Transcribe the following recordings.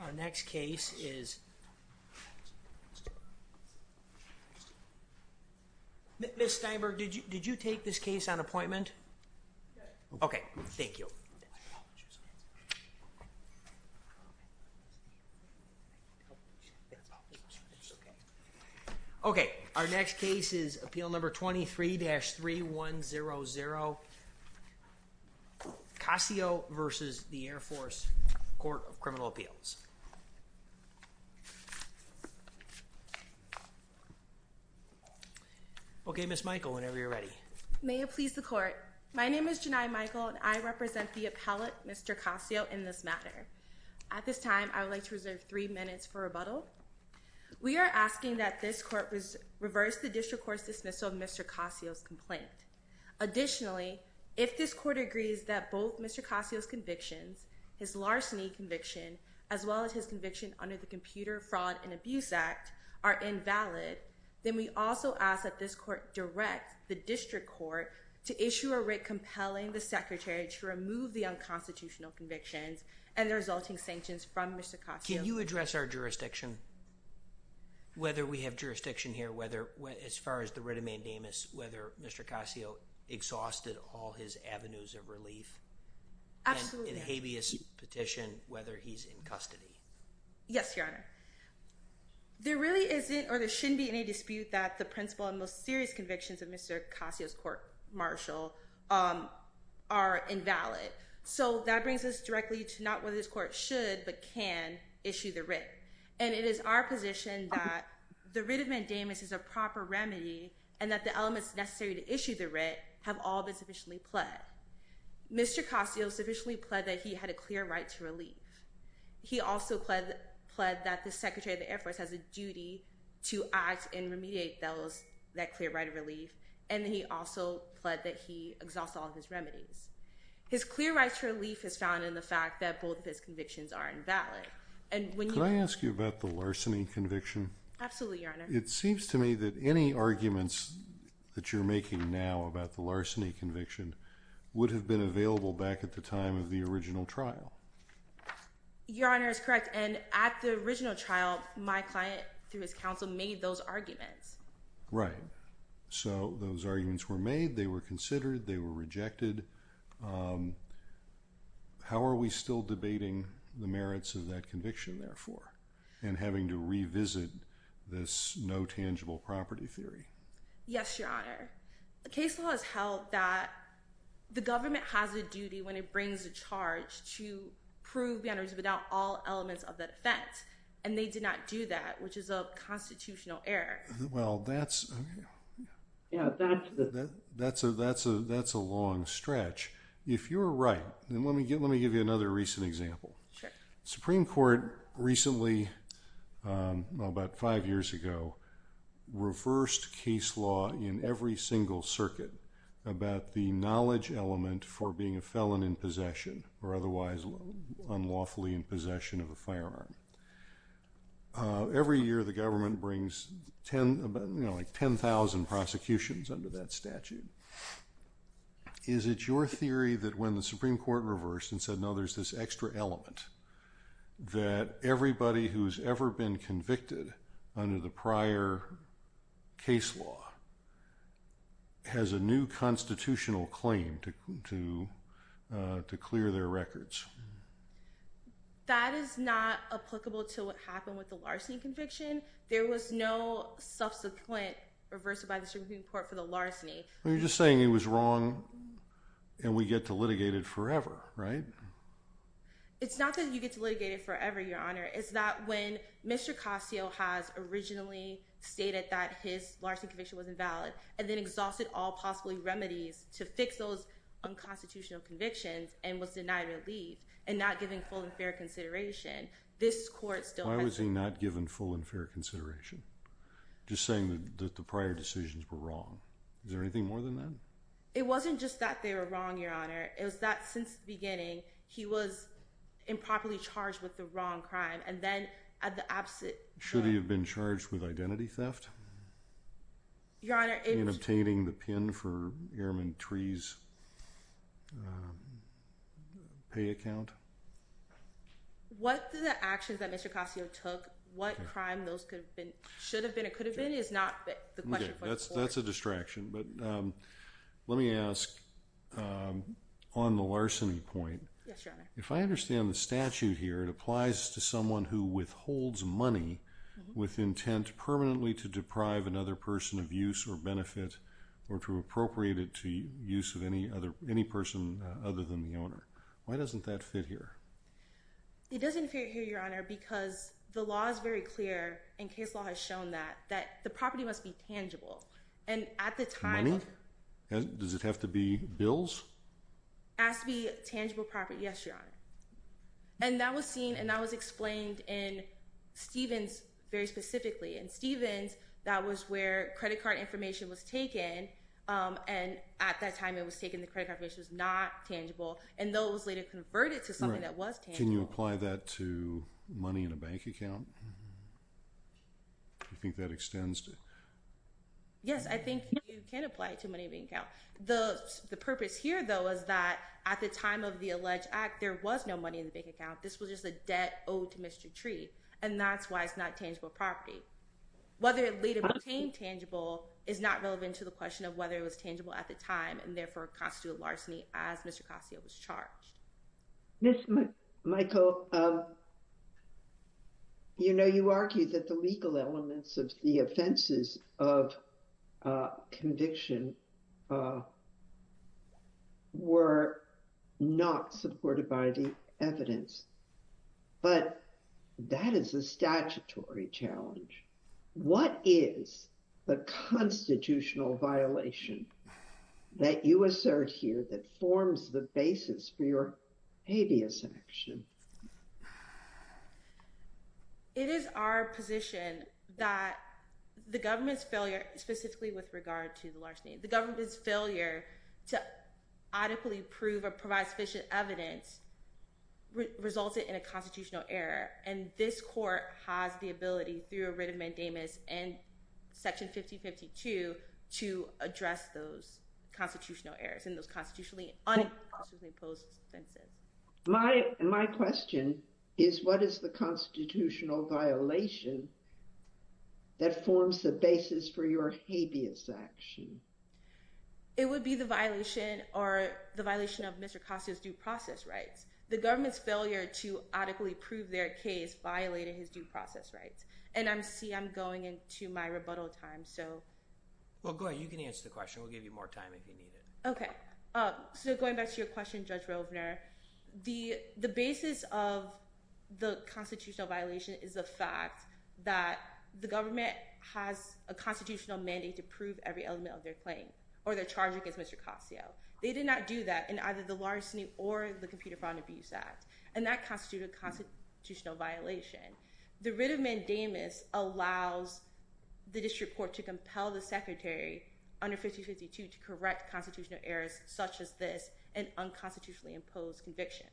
Our next case is... Ms. Steinberg, did you take this case on appointment? Okay, thank you. Okay, our next case is Appeal Number 23-3100, Cossio v. Air Force Court of Criminal Appeals Okay, Ms. Michael, whenever you're ready. May it please the Court. My name is Janai Michael, and I represent the appellate, Mr. Cossio, in this matter. At this time, I would like to reserve three minutes for rebuttal. We are asking that this Court reverse the District Court's dismissal of Mr. Cossio's complaint. Additionally, if this Court agrees that both Mr. Cossio's convictions, his larceny conviction, as well as his conviction under the Computer Fraud and Abuse Act, are invalid, then we also ask that this Court direct the District Court to issue a writ compelling the Secretary to remove the unconstitutional convictions and the resulting sanctions from Mr. Cossio. Can you address our jurisdiction? Whether we have jurisdiction here, as far as the writ of mandamus, whether Mr. Cossio exhausted all his avenues of relief. Absolutely. And in habeas petition, whether he's in custody. Yes, Your Honor. There really isn't, or there shouldn't be any dispute that the principal and most serious convictions of Mr. Cossio's court-martial are invalid. So that brings us directly to not whether this Court should, but can, issue the writ. And it is our position that the writ of mandamus is a proper remedy and that the elements necessary to issue the writ have all been sufficiently pled. Mr. Cossio sufficiently pled that he had a clear right to relief. He also pled that the Secretary of the Air Force has a duty to act and remediate those, that clear right of relief, and he also pled that he exhaust all of his remedies. His clear right to relief is found in the fact that both of his convictions are invalid. Could I ask you about the larceny conviction? Absolutely, Your Honor. It seems to me that any arguments that you're making now about the larceny conviction would have been available back at the time of the original trial. Your Honor is correct. And at the original trial, my client, through his counsel, made those arguments. Right. So those arguments were made, they were considered, they were rejected. How are we still debating the merits of that conviction, therefore, and having to revisit this no tangible property theory? Yes, Your Honor. The case law has held that the government has a duty when it brings a charge to prove boundaries without all elements of that offense, and they did not do that, which is a constitutional error. Well, that's a long stretch. If you're right, then let me give you another recent example. The Supreme Court recently, about five years ago, reversed case law in every single circuit about the knowledge element for being a felon in possession or otherwise unlawfully in possession of a firearm. Every year, the government brings 10,000 prosecutions under that statute. Is it your theory that when the Supreme Court reversed and said, no, there's this extra element, that everybody who's ever been convicted under the prior case law has a new constitutional claim to clear their records? That is not applicable to what happened with the larceny conviction. There was no subsequent reversal by the Supreme Court for the larceny. You're just saying it was wrong and we get to litigate it forever, right? It's not that you get to litigate it forever, Your Honor. It's that when Mr. Casio has originally stated that his larceny conviction was invalid and then exhausted all possible remedies to fix those unconstitutional convictions and was denied relief and not given full and fair consideration, this court still has to... Why was he not given full and fair consideration? Just saying that the prior decisions were wrong. Is there anything more than that? It wasn't just that they were wrong, Your Honor. It was that since the beginning, he was improperly charged with the wrong crime and then at the opposite... Should he have been charged with identity theft? Your Honor, it was... And obtaining the pin for Airman Tree's pay account? What the actions that Mr. Casio took, what crime those could have been, should have been, and could have been is not the question for this court. That's a distraction, but let me ask on the larceny point. Yes, Your Honor. If I understand the statute here, it applies to someone who withholds money with intent permanently to deprive another person of use or benefit or to appropriate it to use of any person other than the owner. Why doesn't that fit here? It doesn't fit here, Your Honor, because the law is very clear, and case law has shown that, that the property must be tangible. And at the time... Money? Does it have to be bills? It has to be tangible property, yes, Your Honor. And that was seen, and that was explained in Stevens very specifically. In Stevens, that was where credit card information was taken, and at that time it was taken, the credit card information was not tangible, and those later converted to something that was tangible. Can you apply that to money in a bank account? Do you think that extends to... Yes, I think you can apply it to money in a bank account. The purpose here, though, is that at the time of the alleged act, there was no money in the bank account. This was just a debt owed to Mr. Tree, and that's why it's not tangible property. Whether it later became tangible is not relevant to the question of whether it was tangible at the time, and therefore constituted larceny as Mr. Cossio was charged. Ms. Michael, you know, you argue that the legal elements of the offenses of conviction were not supported by the evidence, but that is a statutory challenge. What is the constitutional violation that you assert here that forms the basis for your habeas action? It is our position that the government's failure, specifically with regard to the larceny, the government's failure to adequately prove or provide sufficient evidence resulted in a constitutional error, and this court has the ability, through a writ of mandamus and Section 1552, to address those constitutional errors and those unconstitutionally imposed offenses. My question is, what is the constitutional violation that forms the basis for your habeas action? It would be the violation or the violation of Mr. Cossio's due process rights. The government's failure to adequately prove their case violated his due process rights, and I see I'm going into my rebuttal time, so... Well, go ahead. You can answer the question. We'll give you more time if you need it. Okay. So going back to your question, Judge Rovner, the basis of the constitutional violation is the fact that the government has a constitutional mandate to prove every element of their claim or their charge against Mr. Cossio. They did not do that in either the larceny or the Computer Fraud and Abuse Act, and that constitutes a constitutional violation. The writ of mandamus allows the district court to compel the secretary under 1552 to correct constitutional errors such as this and unconstitutionally imposed convictions.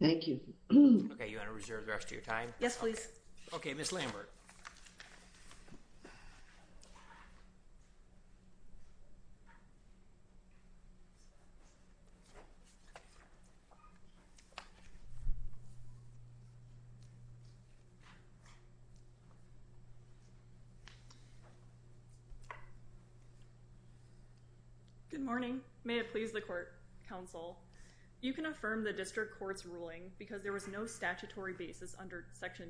Thank you. Okay. You want to reserve the rest of your time? Yes, please. Okay. Ms. Lambert. Good morning. May it please the court, counsel. You can affirm the district court's ruling because there was no statutory basis under Section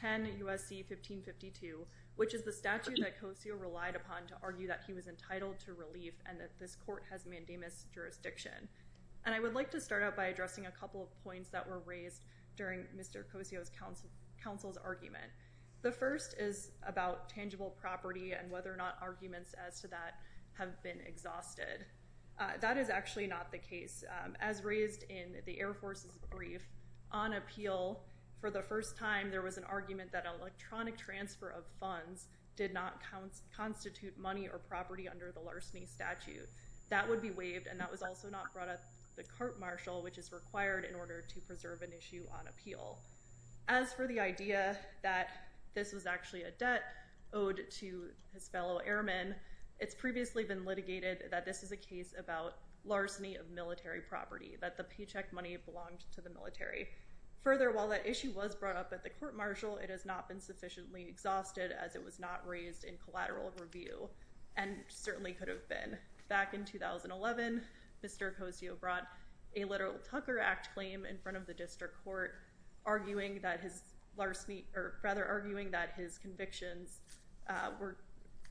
10 U.S.C. 1552, which is the statute that Cossio relied upon to argue that he was entitled to relief and that this court has mandamus jurisdiction. And I would like to start out by addressing a couple of points that were raised during Mr. Cossio's counsel's argument. The first is about tangible property and whether or not arguments as to that have been exhausted. That is actually not the case. As raised in the Air Force's brief, on appeal, for the first time, there was an argument that electronic transfer of funds did not constitute money or property under the larceny statute. That would be waived, and that was also not brought up at the court martial, which is required in order to preserve an issue on appeal. As for the idea that this was actually a debt owed to his fellow airmen, it's previously been litigated that this is a case about larceny of military property, that the paycheck money belonged to the military. Further, while that issue was brought up at the court martial, it has not been sufficiently exhausted as it was not raised in collateral review and certainly could have been. Back in 2011, Mr. Cossio brought a literal Tucker Act claim in front of the district court, arguing that his convictions were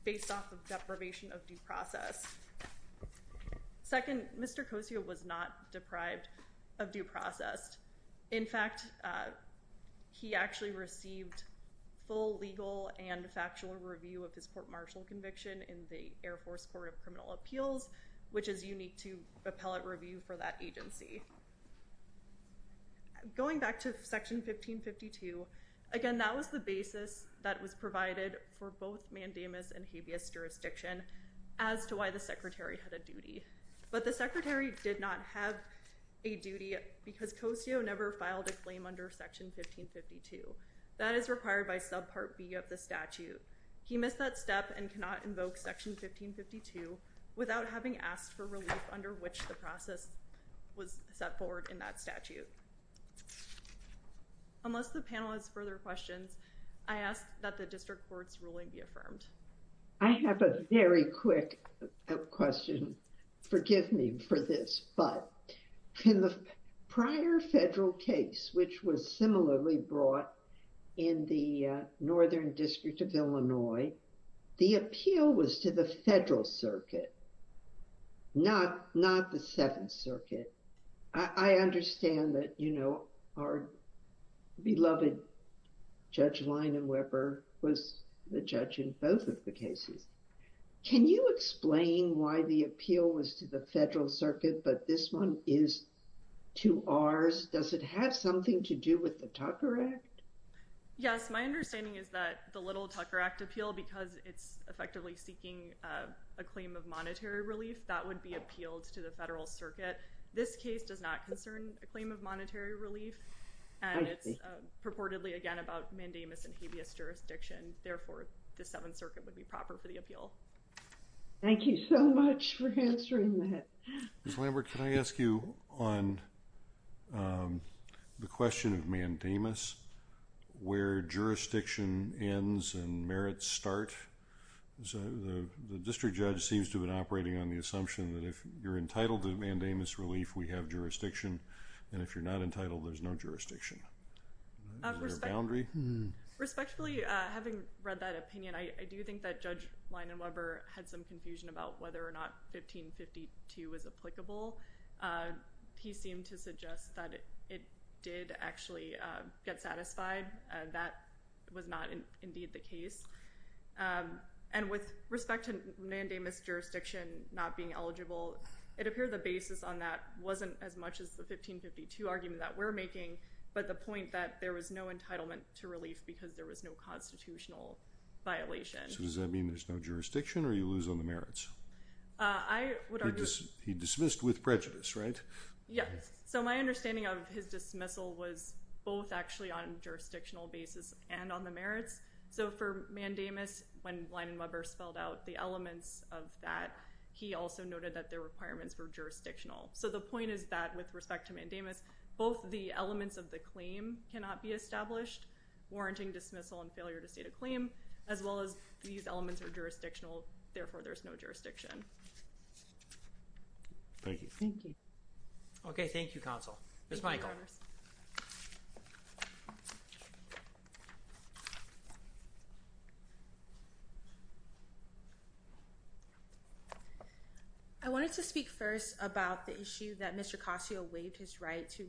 based off of deprivation of due process. Second, Mr. Cossio was not deprived of due process. In fact, he actually received full legal and factual review of his court martial conviction in the Air Force Court of Criminal Appeals, which is unique to appellate review for that agency. Going back to Section 1552, again, that was the basis that was provided for both mandamus and habeas jurisdiction as to why the secretary had a duty. But the secretary did not have a duty because Cossio never filed a claim under Section 1552. That is required by Subpart B of the statute. He missed that step and cannot invoke Section 1552 without having asked for relief under which the process was set forward in that statute. Unless the panel has further questions, I ask that the district court's ruling be affirmed. I have a very quick question. Forgive me for this, but in the prior federal case, which was similarly brought in the Northern District of Illinois, the appeal was to the federal circuit, not the Seventh Circuit. I understand that, you know, our beloved Judge Lina Weber was the judge in both of the cases. Can you explain why the appeal was to the federal circuit, but this one is to ours? Does it have something to do with the Tucker Act? Yes. My understanding is that the Little Tucker Act appeal, because it's effectively seeking a claim of monetary relief, that would be appealed to the federal circuit. This case does not concern a claim of monetary relief, and it's purportedly, again, about mandamus and habeas jurisdiction. Therefore, the Seventh Circuit would be proper for the appeal. Thank you so much for answering that. Ms. Lambert, can I ask you on the question of mandamus, where jurisdiction ends and merits start? The district judge seems to have been operating on the assumption that if you're entitled to mandamus relief, we have jurisdiction, and if you're not entitled, there's no jurisdiction. Respectfully, having read that opinion, I do think that Judge Lina Weber had some confusion about whether or not 1552 was applicable. He seemed to suggest that it did actually get satisfied. That was not indeed the case. And with respect to mandamus jurisdiction not being eligible, it appeared the basis on that wasn't as much as the 1552 argument that we're making, but the point that there was no entitlement to relief because there was no constitutional violation. So does that mean there's no jurisdiction, or you lose on the merits? He dismissed with prejudice, right? Yes. So my understanding of his dismissal was both actually on a jurisdictional basis and on the merits. So for mandamus, when Lina Weber spelled out the elements of that, he also noted that the requirements were jurisdictional. So the point is that with respect to mandamus, both the elements of the claim cannot be established, warranting dismissal and failure to state a claim, as well as these elements are jurisdictional, therefore there's no jurisdiction. Thank you. Thank you. Okay. Thank you, Counsel. Ms. Michael. I wanted to speak first about the issue that Mr. Cossio waived his right to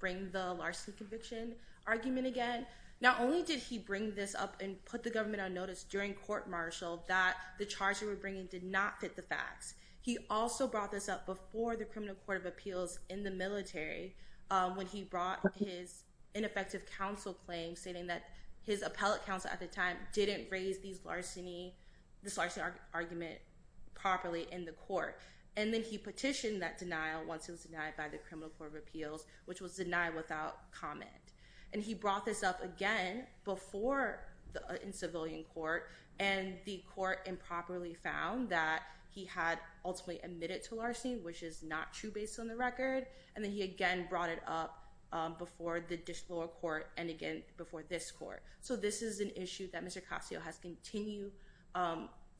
bring the larceny conviction argument again. Not only did he bring this up and put the government on notice during court-martial that the charge he was bringing did not fit the facts, he also brought this up before the Criminal Court of Appeals in the military when he brought his ineffective counsel claim, stating that his appellate counsel at the time didn't raise this larceny argument properly in the court. And then he petitioned that denial once it was denied by the Criminal Court of Appeals, which was denied without comment. And he brought this up again before in civilian court, and the court improperly found that he had ultimately admitted to larceny, which is not true based on the record, and then he again brought it up before the lower court and again before this court. So this is an issue that Mr. Cossio has continued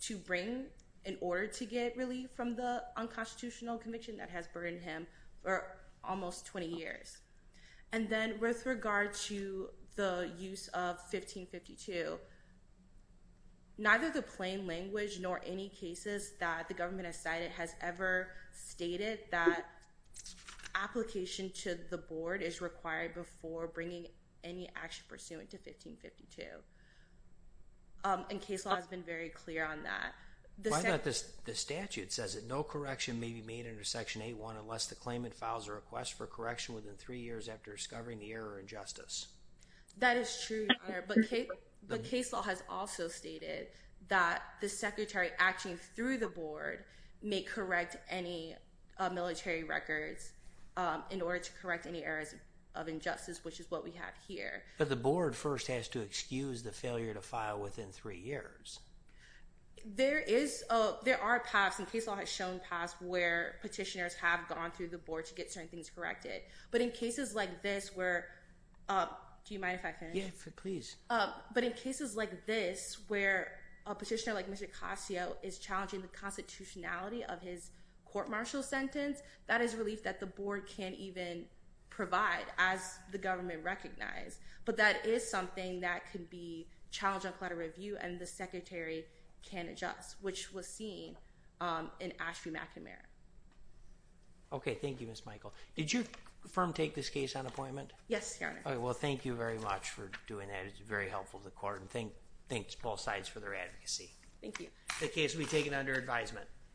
to bring in order to get relief from the unconstitutional conviction that has burdened him for almost 20 years. And then with regard to the use of 1552, neither the plain language nor any cases that the government has cited has ever stated that application to the board is required before bringing any action pursuant to 1552. And case law has been very clear on that. Why not the statute says that no correction may be made under Section 8.1 unless the claimant files a request for correction within three years after discovering the error or injustice? That is true, Your Honor. But case law has also stated that the secretary acting through the board may correct any military records in order to correct any errors of injustice, which is what we have here. But the board first has to excuse the failure to file within three years. There are paths, and case law has shown paths, where petitioners have gone through the board to get certain things corrected. But in cases like this where a petitioner like Mr. Cossio is challenging the constitutionality of his court-martial sentence, that is relief that the board can't even provide as the government recognized. But that is something that could be challenged on collateral review and the secretary can adjust, which was seen in Ashby McNamara. Okay. Thank you, Ms. Michael. Did your firm take this case on appointment? Yes, Your Honor. Well, thank you very much for doing that. It's very helpful to the court. And thanks to both sides for their advocacy. Thank you. The case will be taken under advisement.